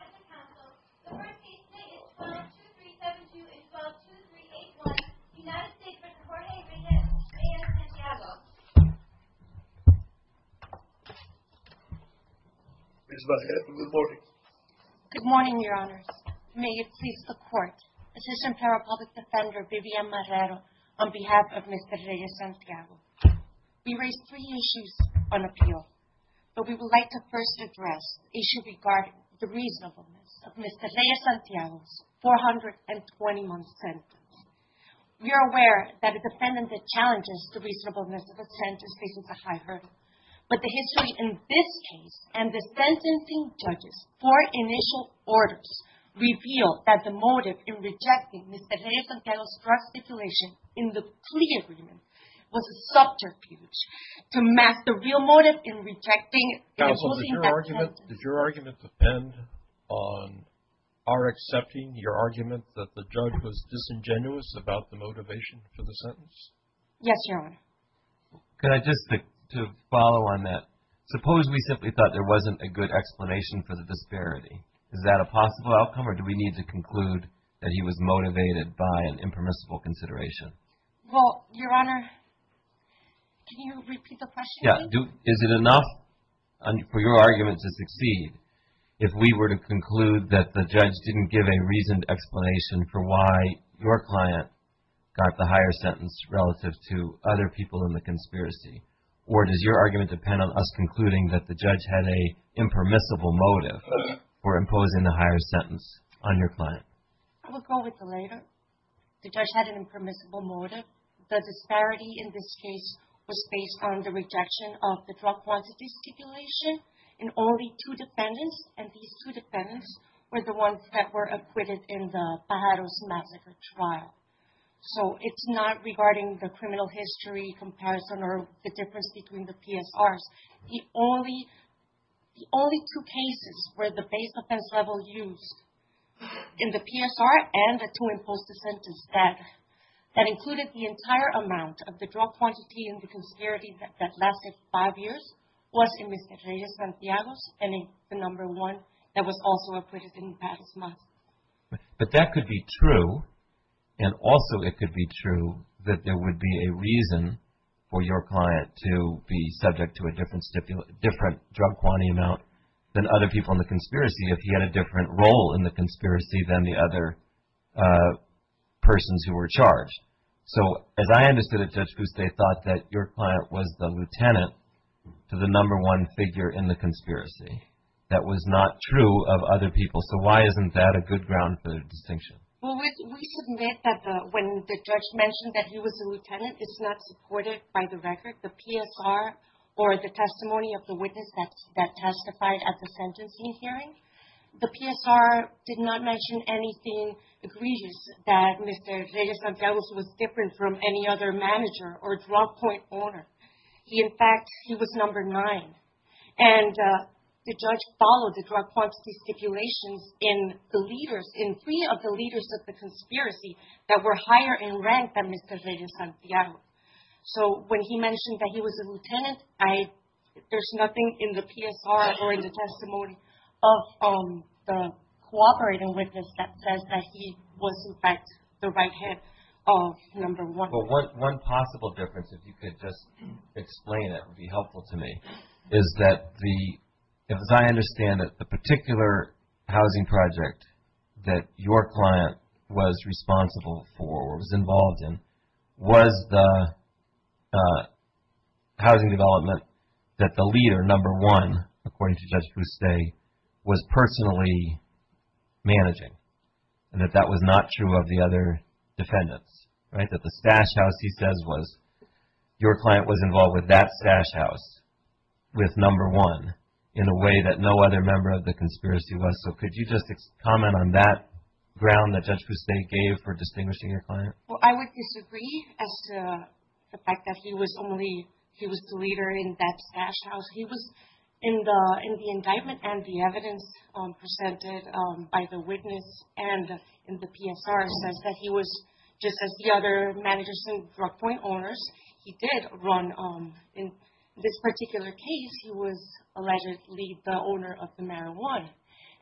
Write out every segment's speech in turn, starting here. At the Council, the first case today is 12-2372-12-2381, United States v. Jorge Reyes-Santiago Ms. Vazquez, good morning Good morning, Your Honors. May it please the Court, Assistant Federal Public Defender Vivian Marrero, on behalf of Mr. Reyes-Santiago We raise three issues on appeal, but we would like to first address the issue regarding the reasonableness of Mr. Reyes-Santiago's 421 sentence We are aware that a defendant that challenges the reasonableness of a sentence faces a high hurdle But the history in this case, and the sentencing judges' four initial orders, reveal that the motive in rejecting Mr. Reyes-Santiago's draft stipulation in the plea agreement was a subterfuge to mask the real motive in rejecting and opposing that sentence Counsel, did your argument depend on our accepting your argument that the judge was disingenuous about the motivation for the sentence? Yes, Your Honor Could I just, to follow on that, suppose we simply thought there wasn't a good explanation for the disparity Is that a possible outcome, or do we need to conclude that he was motivated by an impermissible consideration? Well, Your Honor, can you repeat the question, please? Yeah, is it enough for your argument to succeed if we were to conclude that the judge didn't give a reasoned explanation for why your client got the higher sentence relative to other people in the conspiracy? Or does your argument depend on us concluding that the judge had an impermissible motive for imposing the higher sentence on your client? I will go with the later. The judge had an impermissible motive. The disparity in this case was based on the rejection of the drug quantity stipulation in only two defendants and these two defendants were the ones that were acquitted in the Pajaros massacre trial. So, it's not regarding the criminal history comparison or the difference between the PSRs. The only two cases where the base offense level used in the PSR and the two imposed sentences that included the entire amount of the drug quantity in the conspiracy that lasted five years was in Mr. Reyes-Santiago's and the number one that was also acquitted in the Pajaros massacre. But that could be true, and also it could be true that there would be a reason for your client to be subject to a different drug quantity amount than other people in the conspiracy if he had a different role in the conspiracy than the other persons who were charged. So, as I understood it, Judge Buste, they thought that your client was the lieutenant to the number one figure in the conspiracy. That was not true of other people. So, why isn't that a good ground for the distinction? Well, we submit that when the judge mentioned that he was a lieutenant, it's not supported by the record. or the testimony of the witness that testified at the sentencing hearing. The PSR did not mention anything egregious that Mr. Reyes-Santiago's was different from any other manager or drug point owner. He, in fact, he was number nine. And the judge followed the drug quantity stipulations in the leaders, in three of the leaders of the conspiracy that were higher in rank than Mr. Reyes-Santiago. So, when he mentioned that he was a lieutenant, there's nothing in the PSR or in the testimony of the cooperating witness that says that he was, in fact, the right hand of number one. Well, one possible difference, if you could just explain it, it would be helpful to me, is that the, as I understand it, the particular housing project that your client was responsible for or was involved in was the housing development that the leader, number one, according to Judge Buste, was personally managing and that that was not true of the other defendants. Right? That the stash house, he says, was your client was involved with that stash house with number one in a way that no other member of the conspiracy was. So, could you just comment on that ground that Judge Buste gave for distinguishing your client? Well, I would disagree as to the fact that he was only, he was the leader in that stash house. He was in the indictment and the evidence presented by the witness and in the PSR says that he was, just as the other managers and drug point owners, he did run, in this particular case, he was allegedly the owner of the marijuana.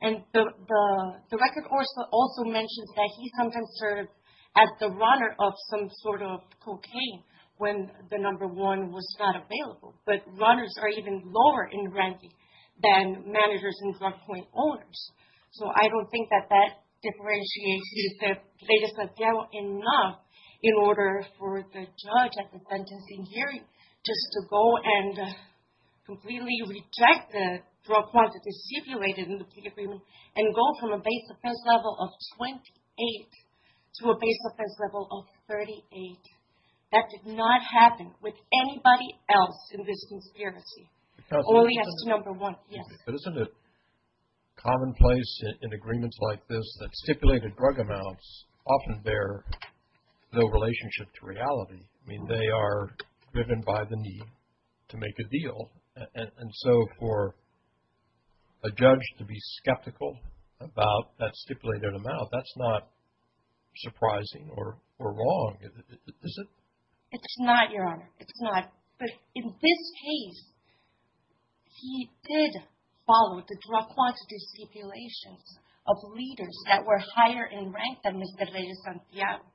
And the record also mentions that he sometimes served as the runner of some sort of cocaine when the number one was not available. But runners are even lower in ranking than managers and drug point owners. So, I don't think that that differentiates the plaintiff's appeal enough in order for the judge to go and completely reject the drug quantity stipulated in the plea agreement and go from a base offense level of 28 to a base offense level of 38. That did not happen with anybody else in this conspiracy. Only as to number one. Yes. But isn't it commonplace in agreements like this that stipulated drug amounts often bear no relationship to reality? I mean, they are driven by the need to make a deal. And so, for a judge to be skeptical about that stipulated amount, that's not surprising or wrong, is it? It's not, Your Honor. It's not. But in this case, he did follow the drug quantity stipulations of leaders that were higher in rank than Mr. Reyes-Santiago.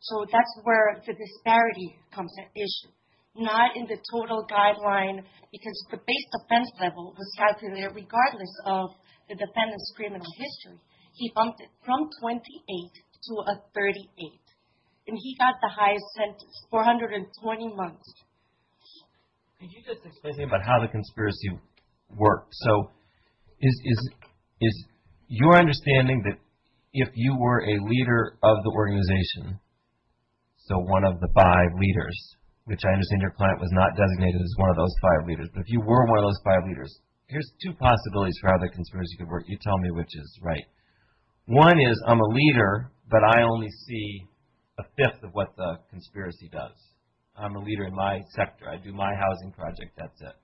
So, that's where the disparity comes into issue. Not in the total guideline, because the base offense level was stipulated regardless of the defendant's criminal history. He bumped it from 28 to a 38. And he got the highest sentence, 420 months. Could you just explain to me about how the conspiracy works? So, is your understanding that if you were a leader of the organization, so one of the five leaders, which I understand your client was not designated as one of those five leaders. But if you were one of those five leaders, here's two possibilities for how the conspiracy could work. You tell me which is right. One is, I'm a leader, but I only see a fifth of what the conspiracy does. I'm a leader in my sector. I do my housing project. That's it.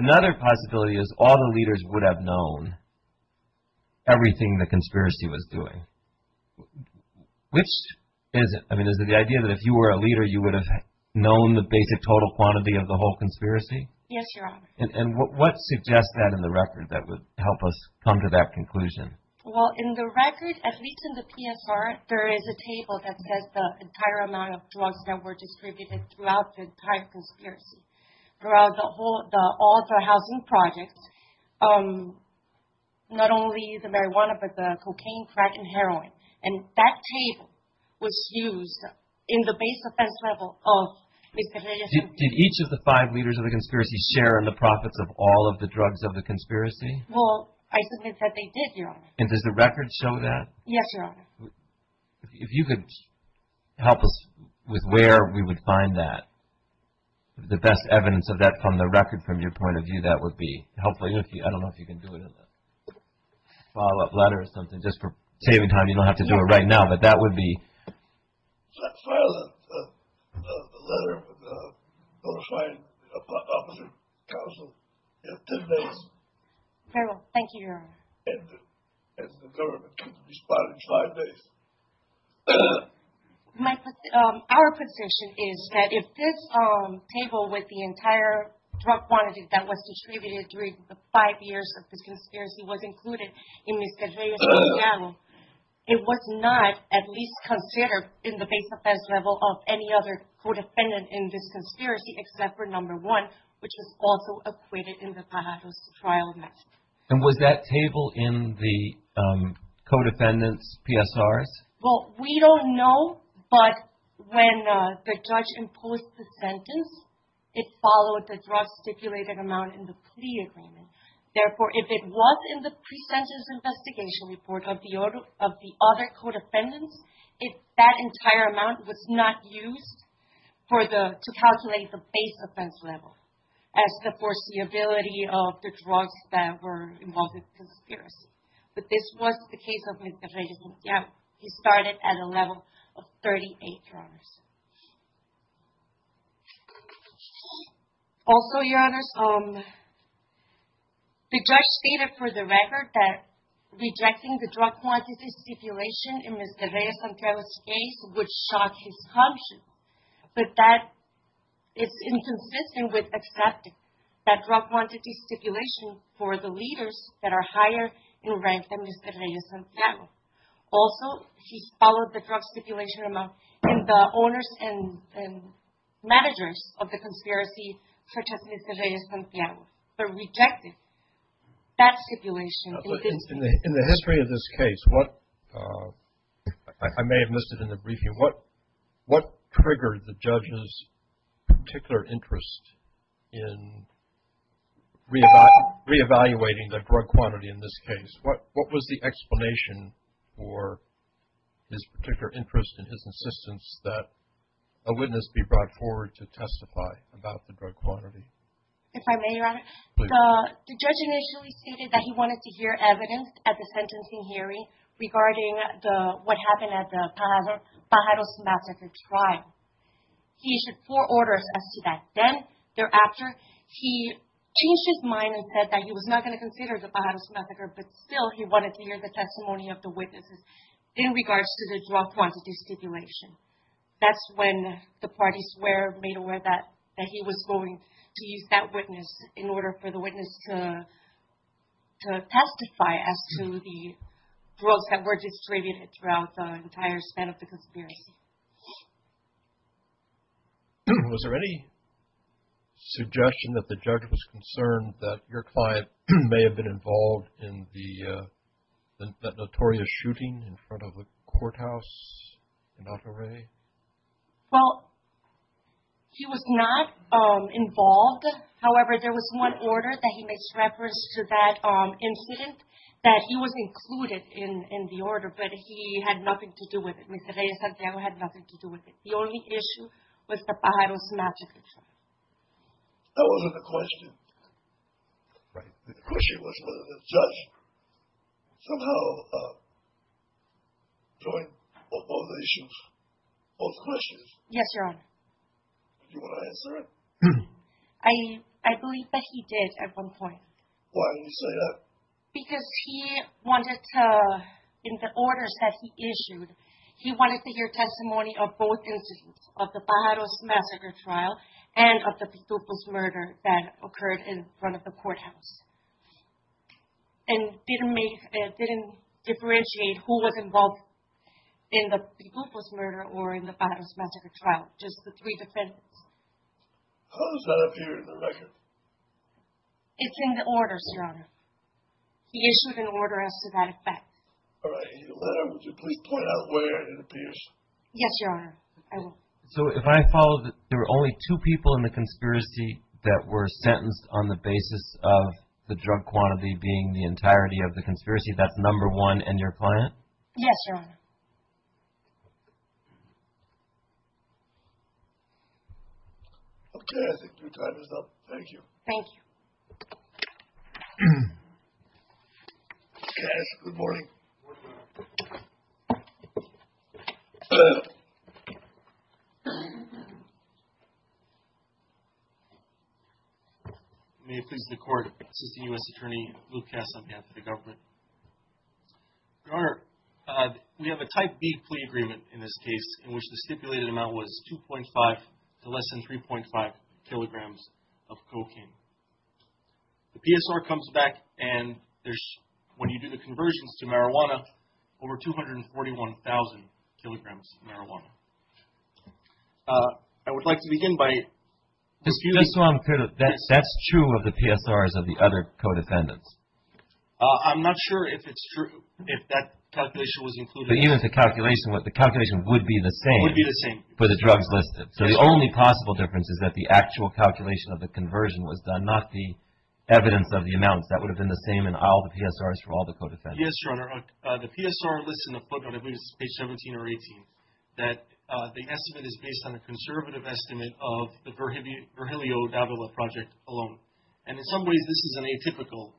Another possibility is all the leaders would have known everything the conspiracy was doing. Which is it? I mean, is it the idea that if you were a leader, you would have known the basic total quantity of the whole conspiracy? Yes, Your Honor. And what suggests that in the record that would help us come to that conclusion? Well, in the record, at least in the PSR, there is a table that says the entire amount of drugs that were distributed throughout the entire conspiracy, throughout all the housing projects, not only the marijuana, but the cocaine, crack, and heroin. And that table was used in the base offense level of Mr. Hilliard. Did each of the five leaders of the conspiracy share in the profits of all of the drugs of the conspiracy? Well, I submit that they did, Your Honor. And does the record show that? Yes, Your Honor. If you could help us with where we would find that, the best evidence of that from the record, from your point of view, that would be helpful. I don't know if you can do it in a follow-up letter or something, just for saving time. You don't have to do it right now, but that would be... Let's file a letter with the notified officer counsel in 10 days. I will. Thank you, Your Honor. And the government could respond in five days. Our position is that if this table with the entire drug quantity that was distributed during the five years that this conspiracy was included in Mr. Hilliard's trial, it was not at least considered in the base offense level of any other co-defendant in this conspiracy except for number one, which was also acquitted in the Fajardo's trial method. And was that table in the co-defendant's PSRs? Well, we don't know, but when the judge imposed the sentence, it followed the drug stipulated amount in the plea agreement. Therefore, if it was in the pre-sentence investigation report of the other co-defendants, that entire amount was not used to calculate the base offense level as the foreseeability of the drugs that were involved in the conspiracy. But this was the case of Mr. Reyes-Santiello. He started at a level of 38, Your Honors. Also, Your Honors, the judge stated for the record that rejecting the drug quantity stipulation in Mr. Reyes-Santiello's case would shock his conscience, but that is inconsistent with accepting that drug quantity stipulation for the leaders that are higher in rank than Mr. Reyes-Santiello. Also, he followed the drug stipulation amount in the owners and managers of the conspiracy, such as Mr. Reyes-Santiello, but rejected that stipulation. In the history of this case, I may have missed it in the briefing, what triggered the judge's particular interest in reevaluating the drug quantity in this case? What was the explanation for his particular interest and his insistence that a witness be brought forward to testify about the drug quantity? If I may, Your Honor, the judge initially stated that he wanted to hear evidence at the sentencing hearing regarding what happened at the Pajaro-Semaseker trial. He issued four orders as to that. Then, thereafter, he changed his mind and said that he was not going to consider the Pajaro-Semaseker, but still he wanted to hear the testimony of the witnesses in regards to the drug quantity stipulation. That's when the parties were made aware that he was going to use that witness in order for the witness to testify as to the drugs that were distributed throughout the entire span of the conspiracy. Was there any suggestion that the judge was concerned that your client may have been involved in that notorious shooting in front of the courthouse in Otorre? Well, he was not involved. However, there was one order that he makes reference to that incident that he was included in the order, but he had nothing to do with it. Mr. Reyes-Santiago had nothing to do with it. The only issue was the Pajaro-Semaseker trial. That wasn't the question. The question was whether the judge somehow joined both issues, both questions. Yes, Your Honor. Do you want to answer it? I believe that he did at one point. Why do you say that? Because he wanted to, in the orders that he issued, he wanted to hear testimony of both incidents, of the Pajaro-Semaseker trial and of the Pitupo's murder that occurred in front of the courthouse, and didn't differentiate who was involved in the Pitupo's murder or in the Pajaro-Semaseker trial, just the three defendants. How does that appear in the record? It's in the orders, Your Honor. He issued an order as to that effect. All right. Would you please point out where it appears? Yes, Your Honor, I will. So if I follow, there were only two people in the conspiracy that were sentenced on the basis of the drug quantity being the entirety of the conspiracy, that's number one and your client? Yes, Your Honor. Okay, I think your time is up. Thank you. Thank you. Cass, good morning. Good morning, Your Honor. May it please the Court, this is the U.S. Attorney Luke Cass on behalf of the government. Your Honor, we have a Type B plea agreement in this case in which the stipulated amount was 2.5 to less than 3.5 kilograms of cocaine. The PSR comes back and there's, when you do the conversions to marijuana, over 241,000 kilograms of marijuana. I would like to begin by disputing Just so I'm clear, that's true of the PSRs of the other co-defendants? I'm not sure if it's true, if that calculation was included. But even if the calculation was, the calculation would be the same for the drugs listed. So the only possible difference is that the actual calculation of the conversion was done, not the evidence of the amounts. That would have been the same in all the PSRs for all the co-defendants. Yes, Your Honor. The PSR lists in the footnote, I believe it's page 17 or 18, that the estimate is based on a conservative estimate of the Virgilio Davila project alone. And in some ways, this is an atypical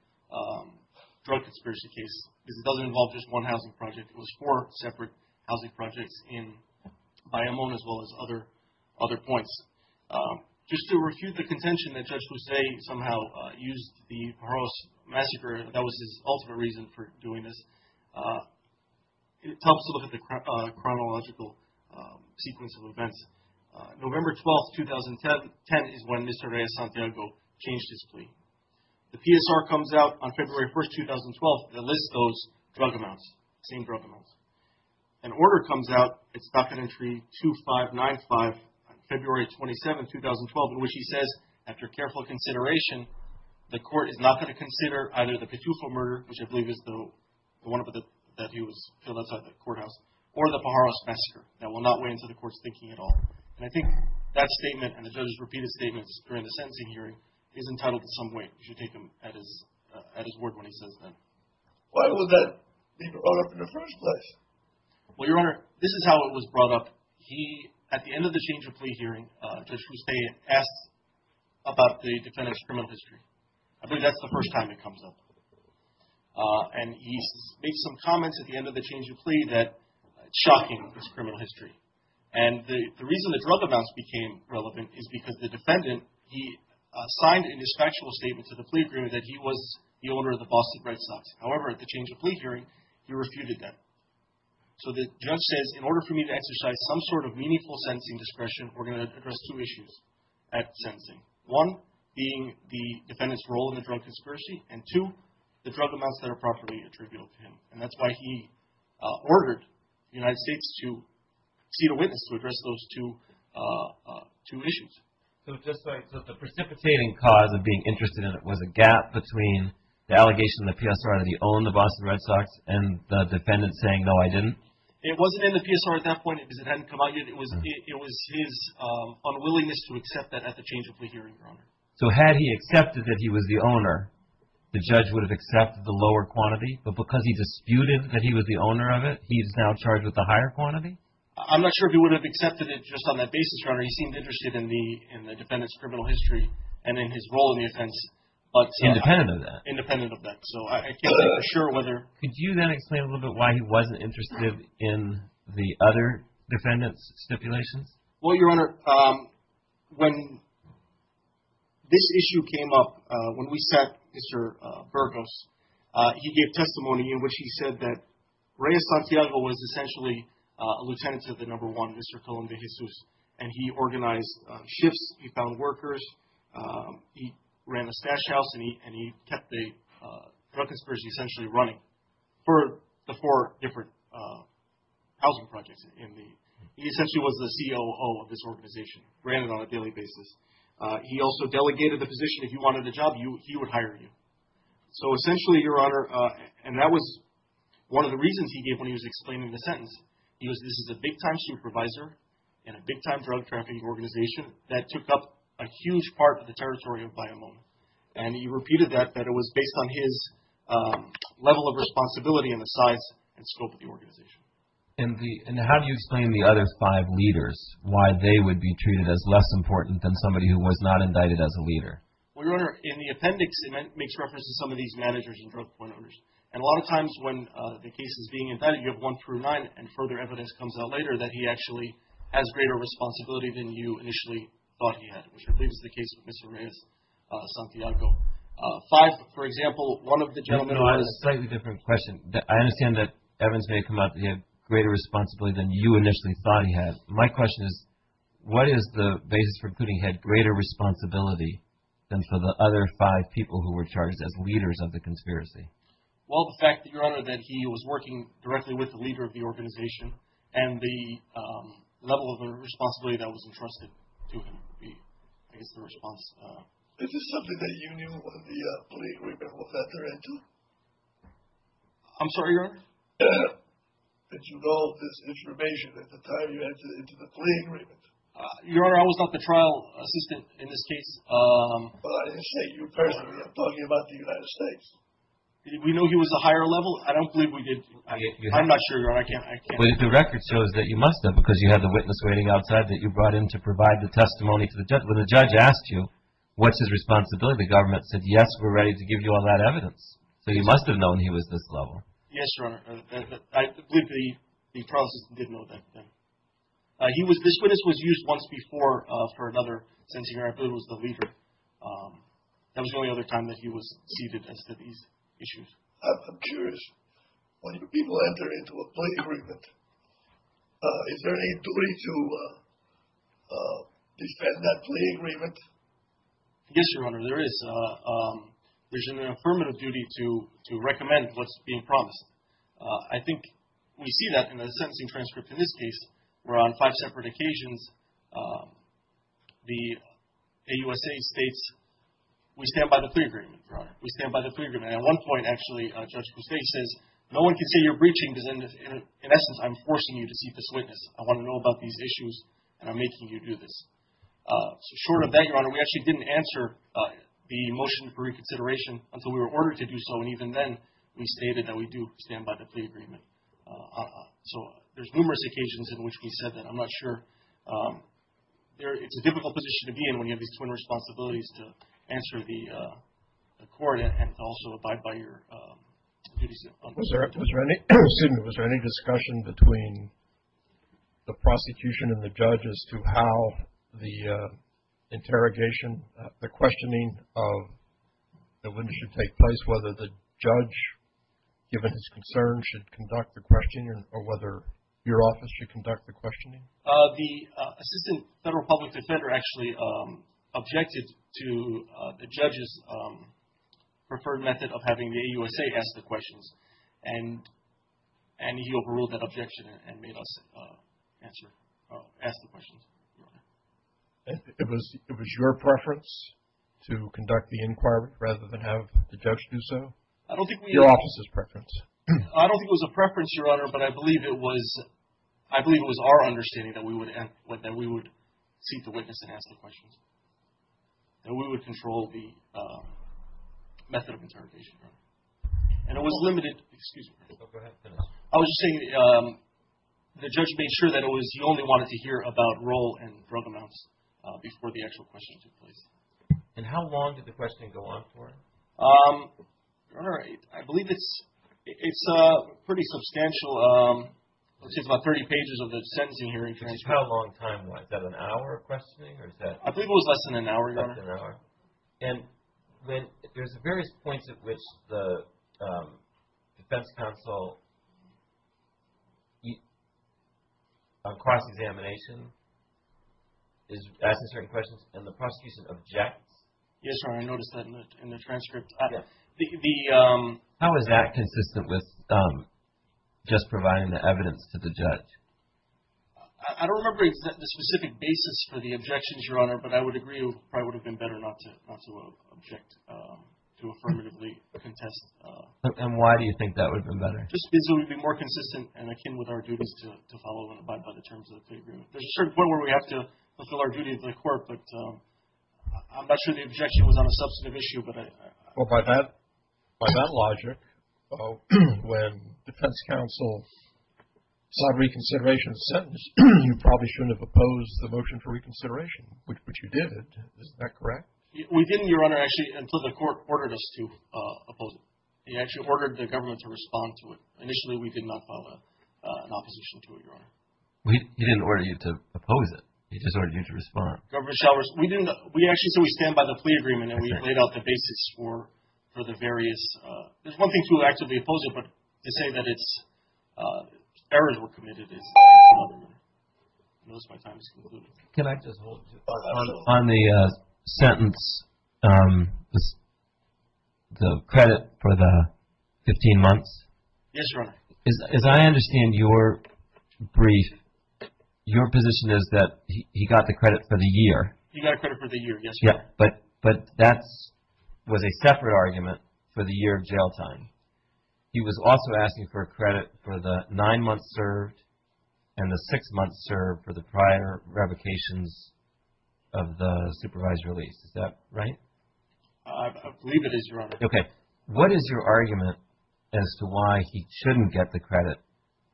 drug conspiracy case because it doesn't involve just one housing project. It was four separate housing projects in Bayamón as well as other points. Just to refute the contention that Judge Luce somehow used the Pajaros massacre, that was his ultimate reason for doing this, it helps to look at the chronological sequence of events. November 12, 2010 is when Mr. Reyes-Santiago changed his plea. The PSR comes out on February 1, 2012 and lists those drug amounts, the same drug amounts. An order comes out, it's docket entry 2595, February 27, 2012, in which he says, after careful consideration, the court is not going to consider either the Petufo murder, which I believe is the one that he was killed outside the courthouse, or the Pajaros massacre. That will not weigh into the court's thinking at all. And I think that statement and the judge's repeated statements during the sentencing hearing is entitled to some weight. You should take them at his word when he says that. Why would that be brought up in the first place? Well, Your Honor, this is how it was brought up. At the end of the change of plea hearing, Judge Fuste asks about the defendant's criminal history. I believe that's the first time it comes up. And he makes some comments at the end of the change of plea that it's shocking, this criminal history. And the reason the drug amounts became relevant is because the defendant, he signed in his factual statement to the plea agreement that he was the owner of the Boston Red Sox. However, at the change of plea hearing, he refuted that. So the judge says, in order for me to exercise some sort of meaningful sentencing discretion, we're going to address two issues at sentencing, one being the defendant's role in the drug conspiracy, and two, the drug amounts that are properly attributable to him. And that's why he ordered the United States to see the witness to address those two issues. So just like the precipitating cause of being interested in it was a gap between the allegation in the PSR that he owned the Boston Red Sox and the defendant saying, no, I didn't? It wasn't in the PSR at that point because it hadn't come out yet. It was his unwillingness to accept that at the change of plea hearing, Your Honor. So had he accepted that he was the owner, the judge would have accepted the lower quantity. But because he disputed that he was the owner of it, he is now charged with the higher quantity? I'm not sure if he would have accepted it just on that basis, Your Honor. He seemed interested in the defendant's criminal history and in his role in the offense. Independent of that? Independent of that. So I can't say for sure whether. Could you then explain a little bit why he wasn't interested in the other defendant's stipulations? Well, Your Honor, when this issue came up, when we sat Mr. Burgos, he gave testimony in which he said that Reyes Santiago was essentially a lieutenant to the number one, Mr. Colón de Jesus. And he organized shifts. He found workers. He ran a stash house. And he kept the drug conspiracy essentially running for the four different housing projects. He essentially was the COO of this organization, ran it on a daily basis. He also delegated the position. If you wanted a job, he would hire you. So essentially, Your Honor, and that was one of the reasons he gave when he was explaining the sentence. He goes, this is a big-time supervisor in a big-time drug trafficking organization that took up a huge part of the territory of Bayamón. And he repeated that, that it was based on his level of responsibility and the size and scope of the organization. And how do you explain the other five leaders, why they would be treated as less important than somebody who was not indicted as a leader? Well, Your Honor, in the appendix, it makes reference to some of these managers and drug point owners. And a lot of times when the case is being indicted, you have one through nine, and further evidence comes out later that he actually has greater responsibility than you initially thought he had, which I believe is the case with Mr. Reyes Santiago. Five, for example, one of the gentlemen who was… No, no, I have a slightly different question. I understand that evidence may come out that he had greater responsibility than you initially thought he had. My question is, what is the basis for putting he had greater responsibility than for the other five people who were charged as leaders of the conspiracy? Well, the fact that, Your Honor, that he was working directly with the leader of the organization and the level of responsibility that was entrusted to him would be, I guess, the response. Is this something that you knew when the plea agreement was entered into? I'm sorry, Your Honor? Did you know this information at the time you entered into the plea agreement? Your Honor, I was not the trial assistant in this case. Well, I didn't say you personally. I'm talking about the United States. Did we know he was a higher level? I don't believe we did. I'm not sure, Your Honor. I can't… Well, the record shows that you must have because you had the witness waiting outside that you brought in to provide the testimony to the government. What's his responsibility? The government said, yes, we're ready to give you all that evidence. So you must have known he was this level. Yes, Your Honor. I believe the trial assistant did know that. This witness was used once before for another sentencing. I believe it was the leader. That was the only other time that he was seated and said these issues. I'm curious. When you people enter into a plea agreement, is there any duty to defend that plea agreement? Yes, Your Honor. There is. There's an affirmative duty to recommend what's being promised. I think we see that in the sentencing transcript in this case where on five separate occasions, the AUSA states, we stand by the plea agreement, Your Honor. We stand by the plea agreement. And at one point, actually, Judge Pustay says, no one can say you're breaching because, in essence, I'm forcing you to see this witness. I want to know about these issues, and I'm making you do this. So short of that, Your Honor, we actually didn't answer the motion for reconsideration until we were ordered to do so, and even then we stated that we do stand by the plea agreement. So there's numerous occasions in which we said that. I'm not sure. It's a difficult position to be in when you have these twin responsibilities to answer the court and also abide by your duties. Was there any discussion between the prosecution and the judge as to how the interrogation, the questioning of the witness should take place, whether the judge, given his concerns, should conduct the questioning or whether your office should conduct the questioning? The Assistant Federal Public Defender actually objected to the judge's preferred method of having the AUSA ask the questions, and he overruled that objection and made us ask the questions. It was your preference to conduct the inquiry rather than have the judge do so? I don't think we – Your office's preference. I don't think it was a preference, Your Honor, but I believe it was our understanding that we would seek the witness and ask the questions, that we would control the method of interrogation. And it was limited – excuse me. Go ahead. I was just saying the judge made sure that it was – he only wanted to hear about roll and drug amounts before the actual questions took place. And how long did the questioning go on for? All right. I believe it's pretty substantial. It's about 30 pages of the sentencing hearing transcript. How long time was that? Was that an hour of questioning or is that – I believe it was less than an hour, Your Honor. Less than an hour. And there's various points at which the defense counsel on cross-examination is asking certain questions and the prosecution objects. Yes, Your Honor. I noticed that in the transcript. How is that consistent with just providing the evidence to the judge? I don't remember the specific basis for the objections, Your Honor, but I would agree it probably would have been better not to object, to affirmatively contest. And why do you think that would have been better? Just because it would be more consistent and akin with our duties to follow and abide by the terms of the agreement. There's a certain point where we have to fulfill our duty to the court, but I'm not sure the objection was on a substantive issue. Well, by that logic, when defense counsel sought reconsideration of the sentence, you probably shouldn't have opposed the motion for reconsideration, which you did. Isn't that correct? We didn't, Your Honor, actually, until the court ordered us to oppose it. He actually ordered the government to respond to it. Well, he didn't order you to oppose it. He just ordered you to respond. We actually said we stand by the plea agreement, and we laid out the basics for the various. There's one thing to actively oppose it, but to say that errors were committed is another one. I notice my time has concluded. Can I just hold on the sentence, the credit for the 15 months? Yes, Your Honor. As I understand your brief, your position is that he got the credit for the year. He got credit for the year, yes, Your Honor. But that was a separate argument for the year of jail time. He was also asking for credit for the nine months served and the six months served for the prior revocations of the supervised release. Is that right? I believe it is, Your Honor. Okay. What is your argument as to why he shouldn't get the credit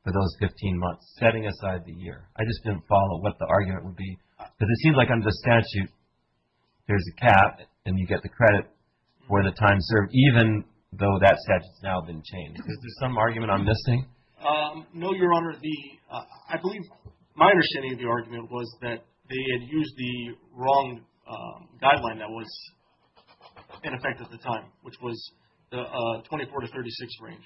for those 15 months, setting aside the year? I just didn't follow what the argument would be. Because it seems like under the statute, there's a cap, and you get the credit for the time served, even though that statute has now been changed. Is there some argument I'm missing? No, Your Honor. I believe my understanding of the argument was that they had used the wrong guideline that was in effect at the time, which was the 24 to 36 range.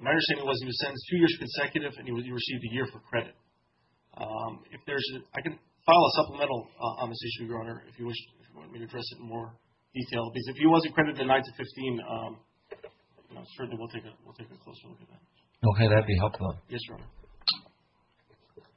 My understanding was he was sentenced two years consecutive, and he received a year for credit. I can file a supplemental on this issue, Your Honor, if you want me to address it in more detail. Because if he wasn't credited nine to 15, certainly we'll take a closer look at that. Okay. Would that be helpful? Yes, Your Honor.